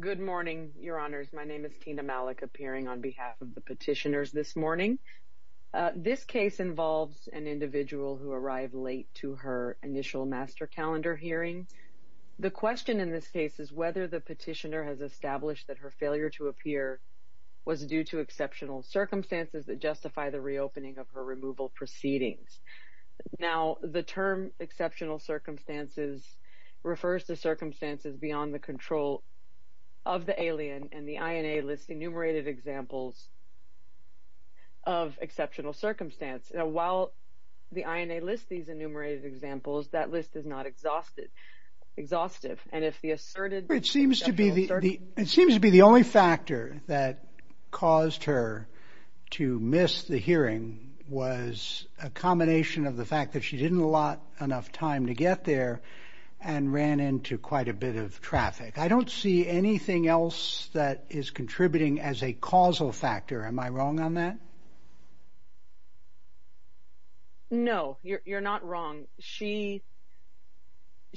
Good morning, Your Honors. My name is Tina Malik, appearing on behalf of the petitioners this morning. This case involves an individual who arrived late to her initial master calendar hearing. The question in this case is whether the petitioner has established that her failure to appear was due to exceptional circumstances that justify the reopening of her removal proceedings. Now, the term exceptional circumstances refers to circumstances beyond the control of the alien and the INA lists enumerated examples of exceptional circumstances. While the INA lists these enumerated examples, that list is not exhaustive and if the asserted it seems to be the only factor that caused her to miss the hearing was a combination of the fact that she didn't allot enough time to get there and ran into quite a bit of traffic. I don't see anything else that is contributing as a causal factor. Am I wrong on that? No, you're not wrong. She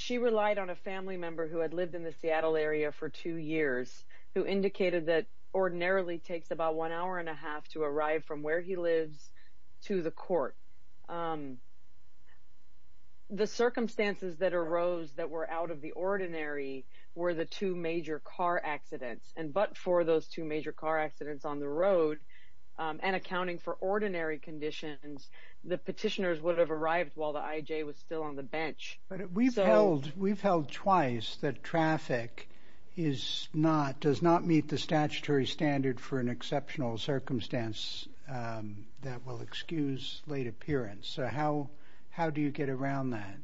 relied on a family member who had lived in the Seattle area for two years who indicated that ordinarily takes about one hour and a half to arrive from where he lives to the court. The circumstances that arose that were out of the ordinary were the two major car accidents and but for those two major car accidents on the road and accounting for ordinary conditions, the petitioners would have arrived while the IJ was still on the bench. But we've held twice that traffic does not meet the statutory standard for an exceptional circumstance that will excuse late appearance. So how do you get around that?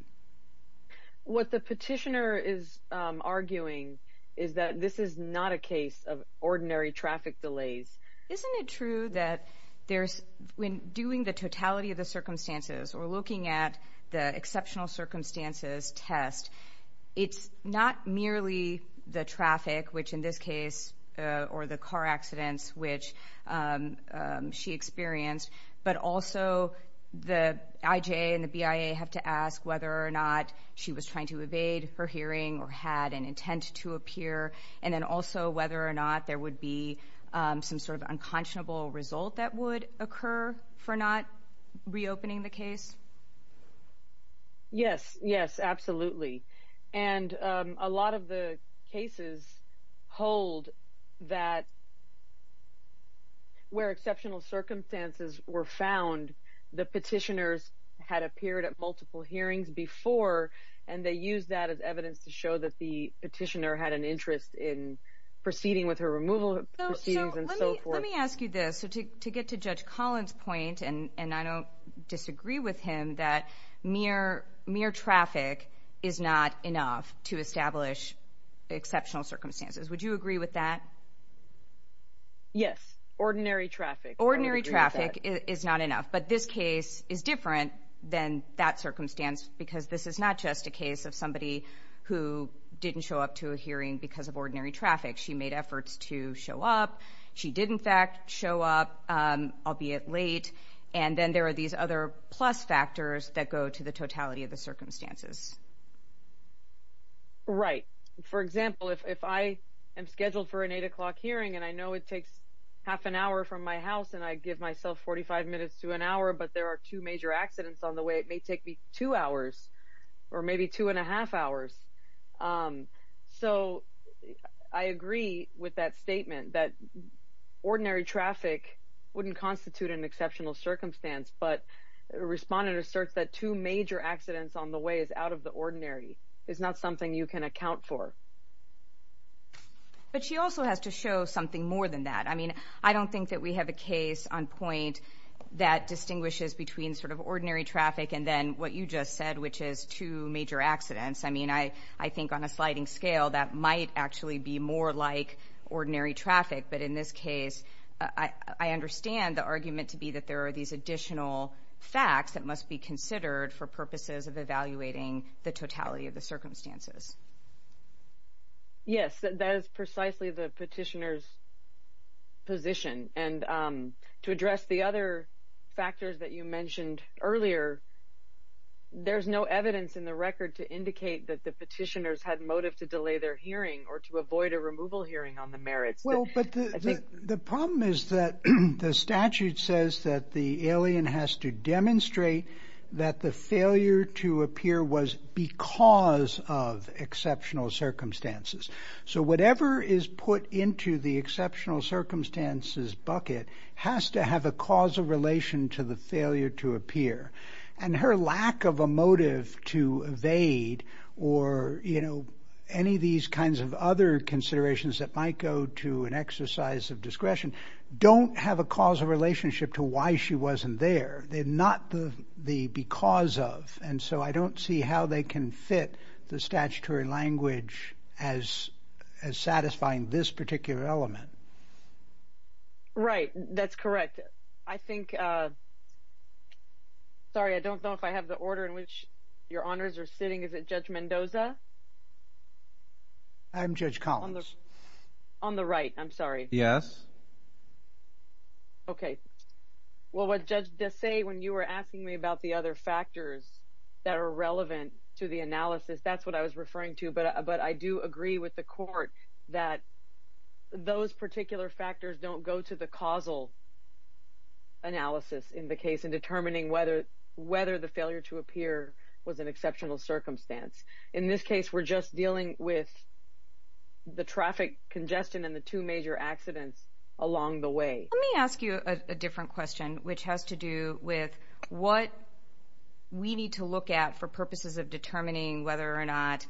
What the petitioner is arguing is that this is not a case of ordinary traffic delays. Isn't it true that there's when doing the totality of the circumstances or looking at the exceptional circumstances test, it's not merely the traffic which in this case or the car accidents which she experienced but also the IJ and the BIA have to ask whether or not she was trying to evade her hearing or had an intent to appear and then also whether or not there would be some sort of unconscionable result that would occur for not reopening the case? Yes, yes, absolutely. And a lot of the cases hold that where exceptional circumstances were found, the petitioners had appeared at multiple hearings before and they used that as evidence to show that the petitioner had an interest in proceeding with her removal proceedings and so forth. Let me ask you this. To get to Judge Collins' point, and I don't disagree with him, that mere traffic is not enough to establish exceptional circumstances. Would you agree with that? Yes, ordinary traffic. Ordinary traffic is not enough. But this case is different than that circumstance because this is not just a case of somebody who didn't show up to a hearing because of ordinary traffic. She made show up, albeit late, and then there are these other plus factors that go to the totality of the circumstances. Right. For example, if I am scheduled for an eight o'clock hearing and I know it takes half an hour from my house and I give myself 45 minutes to an hour but there are two major accidents on the way, it may take me two hours or maybe two and a half hours. So I agree with that statement that ordinary traffic wouldn't constitute an exceptional circumstance, but respondent asserts that two major accidents on the way is out of the ordinary. It's not something you can account for. But she also has to show something more than that. I mean, I don't think that we have a case on point that distinguishes between sort of ordinary traffic and then what you just said, which is two major accidents. I mean, I think on a sliding scale that might actually be more like ordinary traffic. But in this case, I understand the argument to be that there are these additional facts that must be considered for purposes of evaluating the totality of the circumstances. Yes, that is precisely the petitioner's position. And to address the other factors that you mentioned earlier, there's no evidence in the record to avoid a removal hearing on the merits. Well, but the problem is that the statute says that the alien has to demonstrate that the failure to appear was because of exceptional circumstances. So whatever is put into the exceptional circumstances bucket has to have a causal relation to the failure to appear. And her lack of a motive to evade or, you know, any of these kinds of other considerations that might go to an exercise of discretion don't have a causal relationship to why she wasn't there. They're not the because of. And so I don't see how they can fit the statutory language as satisfying this particular element. Right, that's correct. I think, sorry, I don't know if I have the order in which your honors are sitting. Is it Judge Mendoza? I'm Judge Collins. On the right, I'm sorry. Yes. Okay. Well, what Judge Desai, when you were asking me about the other factors that are relevant to the analysis, that's what I was referring to. But I do agree with the court that those particular factors don't go to the causal analysis in the case in determining whether the failure to appear was an exceptional circumstance. In this case, we're just dealing with the traffic congestion and the two major accidents along the way. Let me ask you a different question, which has to do with what we need to look at for purposes of determining whether or not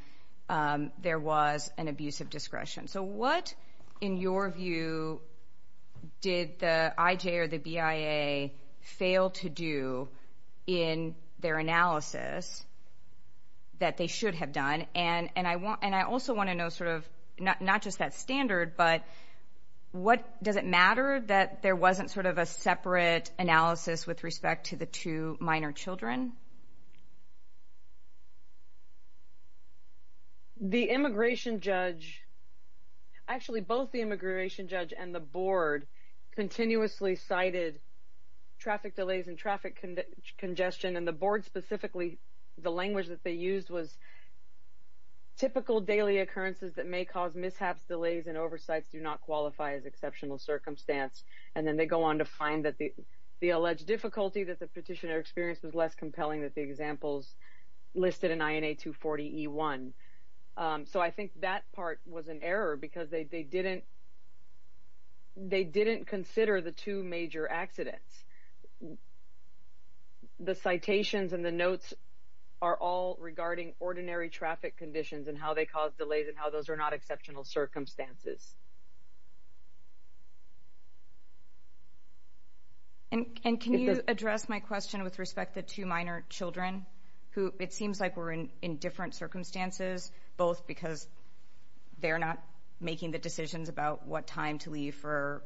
there was an abuse of discretion. So what, in your view, did the IJ or the BIA fail to do in their analysis that they should have done? And I also want to know sort of, not just that standard, but does it matter that there wasn't sort of a separate analysis with respect to the two minor children? The immigration judge, actually both the immigration judge and the board continuously cited traffic delays and traffic congestion. And the board specifically, the language that they used was typical daily occurrences that may cause mishaps, delays, and oversights do not qualify as exceptional circumstance. And then they go on to find that the alleged difficulty that the petitioner experienced was less compelling that the examples listed in INA 240E1. So I think that part was an error because they didn't consider the two major accidents. The citations and the notes are all regarding ordinary traffic conditions and how they cause delays and how those are not exceptional circumstances. And can you address my question with respect to two minor children who it seems like were in different circumstances, both because they're not making the decisions about what time to leave for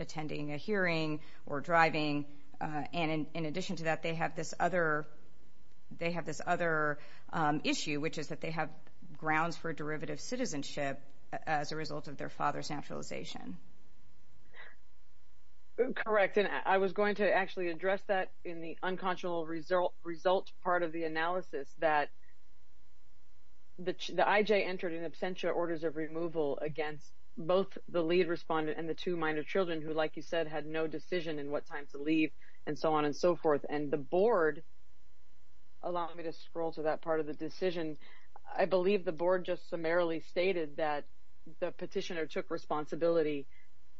attending a hearing or driving. And in addition to that, they have this other issue, which is that they have grounds for derivative citizenship as a result of their father's naturalization. Correct. And I was going to actually address that in the unconscionable result part of the analysis that the IJ entered in absentia orders of removal against both the lead respondent and the two minor children who, like you said, had no decision in what time to leave and so on and so forth. And the board, allow me to scroll to that part of the decision, I believe the board just summarily stated that the petitioner took responsibility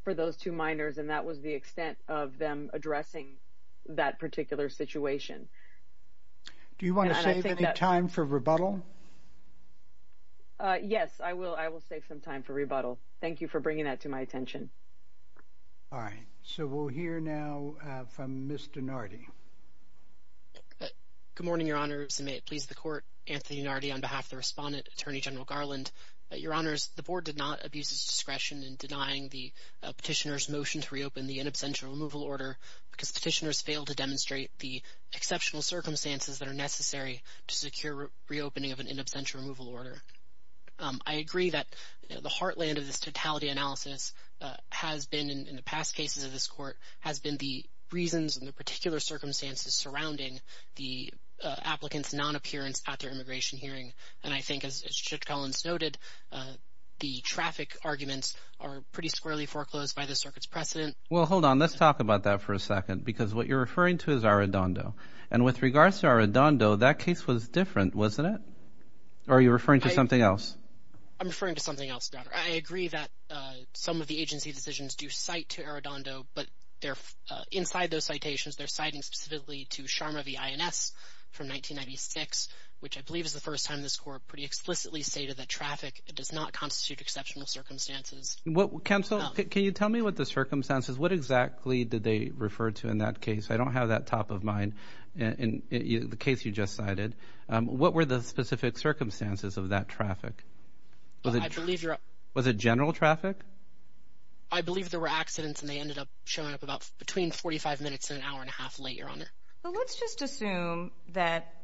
for those two minors and that was the extent of them addressing that particular situation. Do you want to save any time for rebuttal? Yes, I will. I will save some time for rebuttal. Thank you for bringing that to my attention. All right, so we'll hear now from Mr. Nardi. Good morning, Your Honor. May it please the court, Anthony Nardi on behalf of the respondent, Attorney General Garland. Your Honors, the board did not abuse its discretion in denying the petitioner's motion to reopen the in absentia removal order because petitioners failed to demonstrate the exceptional circumstances that are necessary to secure reopening of an in absentia removal order. I agree that the heartland of this totality analysis has been, in the past cases of this court, has been the reasons and the particular circumstances surrounding the applicant's non-appearance at their immigration hearing. And I think, as Judge Collins noted, the traffic arguments are pretty squarely foreclosed by the circuit's precedent. Well, hold on. Let's talk about that for a second because what you're referring to is Arradondo. And with regards to Arradondo, that case was different, wasn't it? Or are you of the agency decisions do cite to Arradondo, but they're inside those citations, they're citing specifically to Sharma v. INS from 1996, which I believe is the first time this court pretty explicitly stated that traffic does not constitute exceptional circumstances. Counsel, can you tell me what the circumstances, what exactly did they refer to in that case? I don't have that top of mind in the case you just cited. What were the specific circumstances of that traffic? Was it general traffic? I believe there were accidents and they ended up showing up about between 45 minutes and an hour and a half later on it. Well, let's just assume that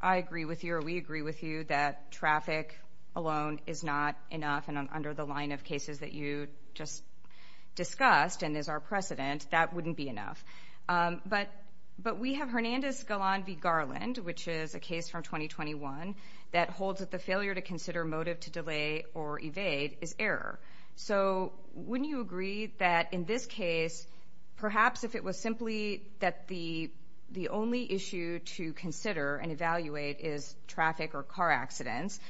I agree with you or we agree with you that traffic alone is not enough. And under the line of cases that you just discussed and is our precedent, that wouldn't be enough. But we have Hernandez v. Garland, which is a case from 2021 that holds that the failure to consider motive to delay or evade is error. So wouldn't you agree that in this case, perhaps if it was simply that the the only issue to consider and evaluate is traffic or car accidents,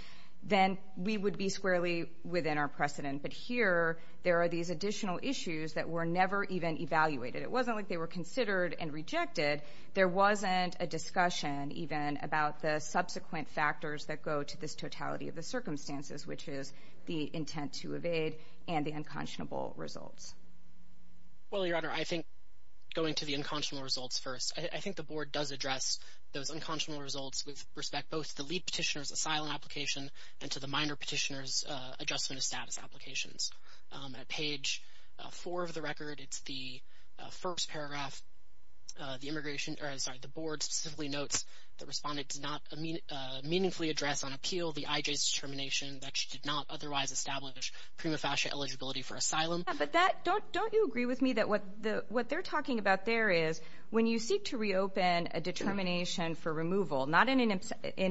then we would be squarely within our precedent. But here there are these additional issues that were never even evaluated. It wasn't like they were considered and rejected. There wasn't a discussion even about the subsequent factors that go to this totality of the circumstances, which is the intent to evade and the unconscionable results. Well, Your Honor, I think going to the unconscionable results first, I think the board does address those unconscionable results with respect both to the lead petitioner's asylum application and to the minor petitioner's adjustment of status applications. At page four of the record, it's the first paragraph. The board specifically notes the respondent did not meaningfully address on appeal the IJ's determination that she did not otherwise establish prima facie eligibility for asylum. Yeah, but don't you agree with me that what they're talking about there is when you seek to reopen a determination for removal, not in an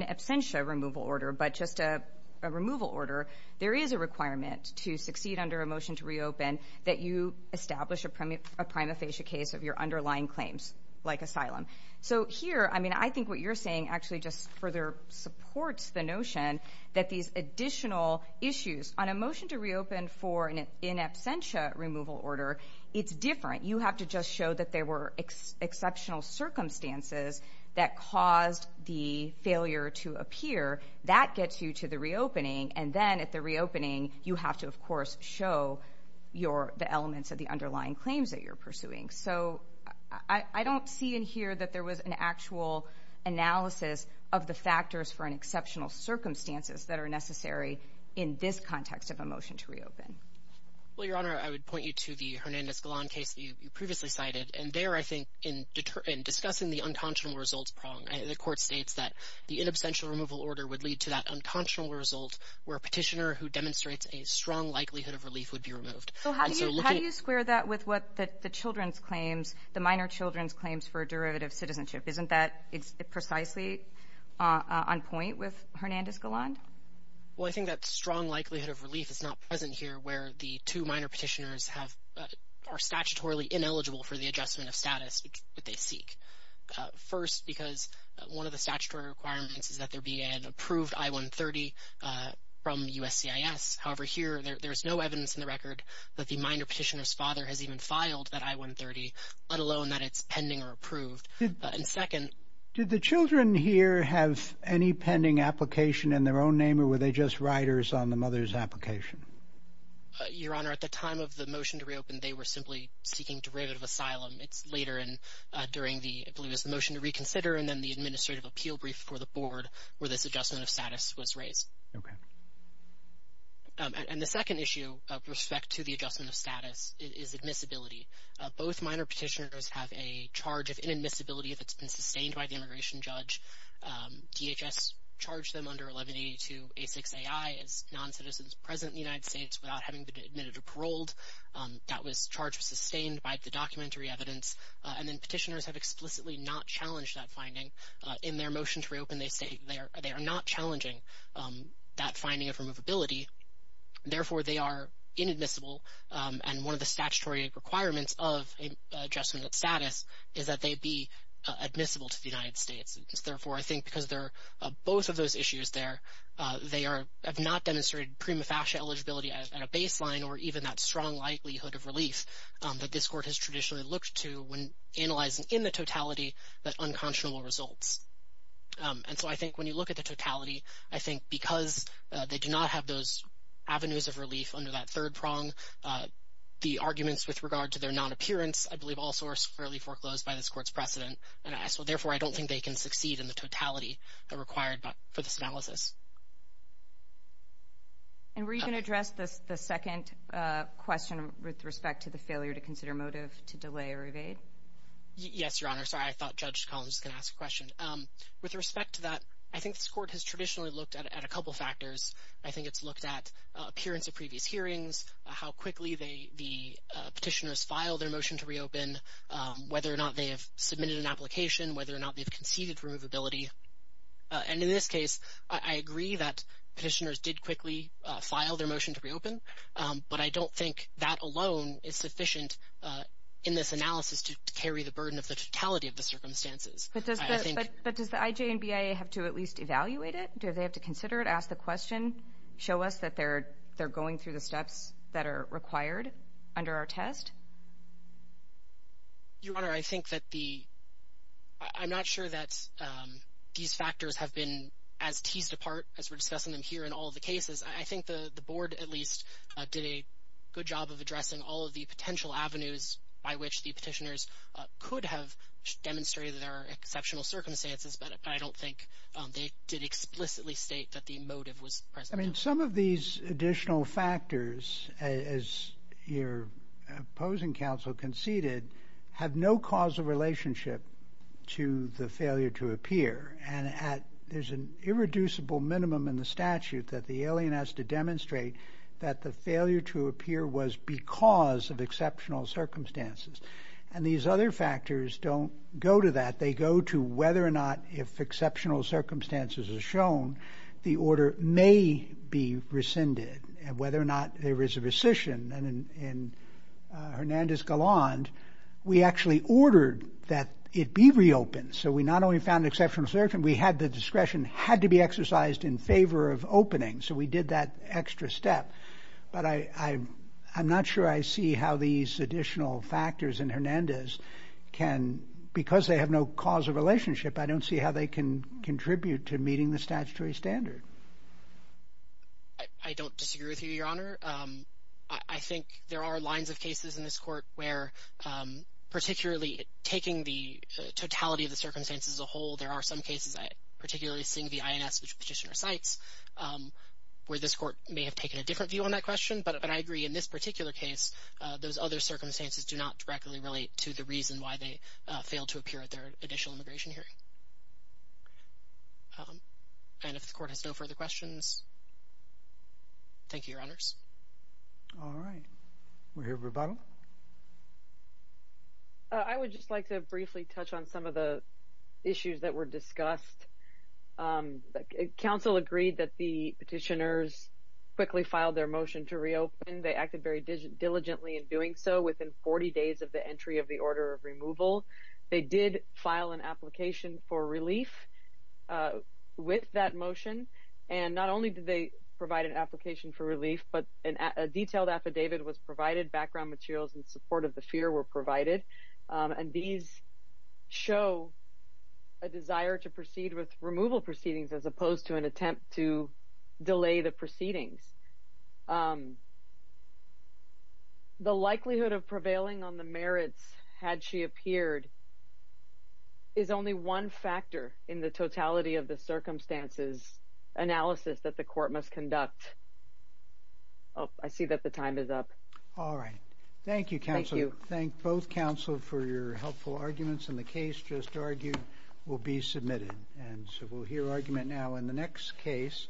absentia removal order, but just a removal order, there is a requirement to succeed under a motion to reopen that you establish a prima facie case of your underlying claims like asylum. So here, I mean, I think what you're saying actually just further supports the notion that these additional issues on a motion to reopen for an in absentia removal order, it's different. You have to just show that there were exceptional circumstances that caused the failure to appear. That gets you to the reopening. And then at the reopening, you have to, of course, show the elements of the underlying claims that you're pursuing. So I don't see in here that there was an actual analysis of the factors for an exceptional circumstances that are necessary in this context of a motion to reopen. Well, Your Honor, I would point you to the Hernandez-Golan case that you previously cited. And there, I think, in discussing the unconscionable results the court states that the in absentia removal order would lead to that unconscionable result where a petitioner who demonstrates a strong likelihood of relief would be removed. So how do you square that with what the children's claims, the minor children's claims for derivative citizenship? Isn't that precisely on point with Hernandez-Golan? Well, I think that strong likelihood of relief is not present here where the two minor petitioners are statutorily ineligible for the adjustment of status that they seek. First, because one of the statutory requirements is that there be an approved I-130 from USCIS. However, here there's no evidence in the record that the minor petitioner's father has even filed that I-130, let alone that it's pending or approved. And second... Did the children here have any pending application in their own name, or were they just riders on the mother's application? Your Honor, at the time of the motion to reopen, they were simply seeking derivative asylum. It's the motion to reconsider and then the administrative appeal brief for the board where this adjustment of status was raised. And the second issue with respect to the adjustment of status is admissibility. Both minor petitioners have a charge of inadmissibility that's been sustained by the immigration judge. DHS charged them under 1182 A6AI as non-citizens present in the United States without having been admitted or paroled. That charge was sustained by the documentary evidence. And then petitioners have explicitly not challenged that finding. In their motion to reopen, they state they are not challenging that finding of removability. Therefore, they are inadmissible. And one of the statutory requirements of adjustment of status is that they be admissible to the United States. Therefore, I think because they're both of those issues there, they have not demonstrated prima facie eligibility at a baseline or even that strong likelihood of when analyzing in the totality, that unconscionable results. And so I think when you look at the totality, I think because they do not have those avenues of relief under that third prong, the arguments with regard to their non-appearance, I believe, also are squarely foreclosed by this court's precedent. And so therefore, I don't think they can succeed in the totality required for this analysis. And were you going to address the second question with respect to the failure to consider motive to delay a rebate? Yes, Your Honor. Sorry, I thought Judge Collins was going to ask a question. With respect to that, I think this court has traditionally looked at a couple factors. I think it's looked at appearance of previous hearings, how quickly the petitioners filed their motion to reopen, whether or not they have submitted an application, whether or not they've conceded removability. And in this case, I agree that petitioners did quickly file their motion to reopen, but I don't think that alone is sufficient in this analysis to carry the burden of the totality of the circumstances. But does the IJ and BIA have to at least evaluate it? Do they have to consider it, ask the question, show us that they're going through the steps that are required under our test? Your Honor, I think that the — I'm not sure that these factors have been as teased apart as we're discussing them here in all the cases. I think the board at least did a good job of addressing all of the potential avenues by which the petitioners could have demonstrated that there are exceptional circumstances, but I don't think they did explicitly state that the motive was present. I mean, some of these additional factors, as your opposing counsel conceded, have no causal relationship to the failure to appear, and there's an irreducible minimum in the statute that the alien has to demonstrate that the failure to appear was because of exceptional circumstances. And these other factors don't go to that. They go to whether or not, if exceptional circumstances are shown, the order may be rescinded, and whether or not there is a rescission. And in we had the discretion had to be exercised in favor of opening, so we did that extra step. But I'm not sure I see how these additional factors in Hernandez can — because they have no causal relationship, I don't see how they can contribute to meeting the statutory standard. I don't disagree with you, your Honor. I think there are lines of cases in this Court where, particularly taking the totality of the circumstances as a whole, there are some cases, particularly seeing the INS petitioner cites, where this Court may have taken a different view on that question. But I agree, in this particular case, those other circumstances do not directly relate to the reason why they failed to appear at their additional immigration hearing. And if the Court has no further questions, thank you, your Honors. All right. We hear rebuttal. I would just like to briefly touch on some of the issues that were discussed. Council agreed that the petitioners quickly filed their motion to reopen. They acted very diligently in doing so within 40 days of the entry of the order of removal. They did file an application for relief with that motion, and not only did they provide an detailed affidavit, but background materials in support of the fear were provided. And these show a desire to proceed with removal proceedings as opposed to an attempt to delay the proceedings. The likelihood of prevailing on the merits had she appeared is only one factor in the totality of the circumstances analysis that the Court must approve. I see that the time is up. All right. Thank you, Council. Thank you. Thank both Council for your helpful arguments, and the case just argued will be submitted. And so we'll hear argument now in the next case.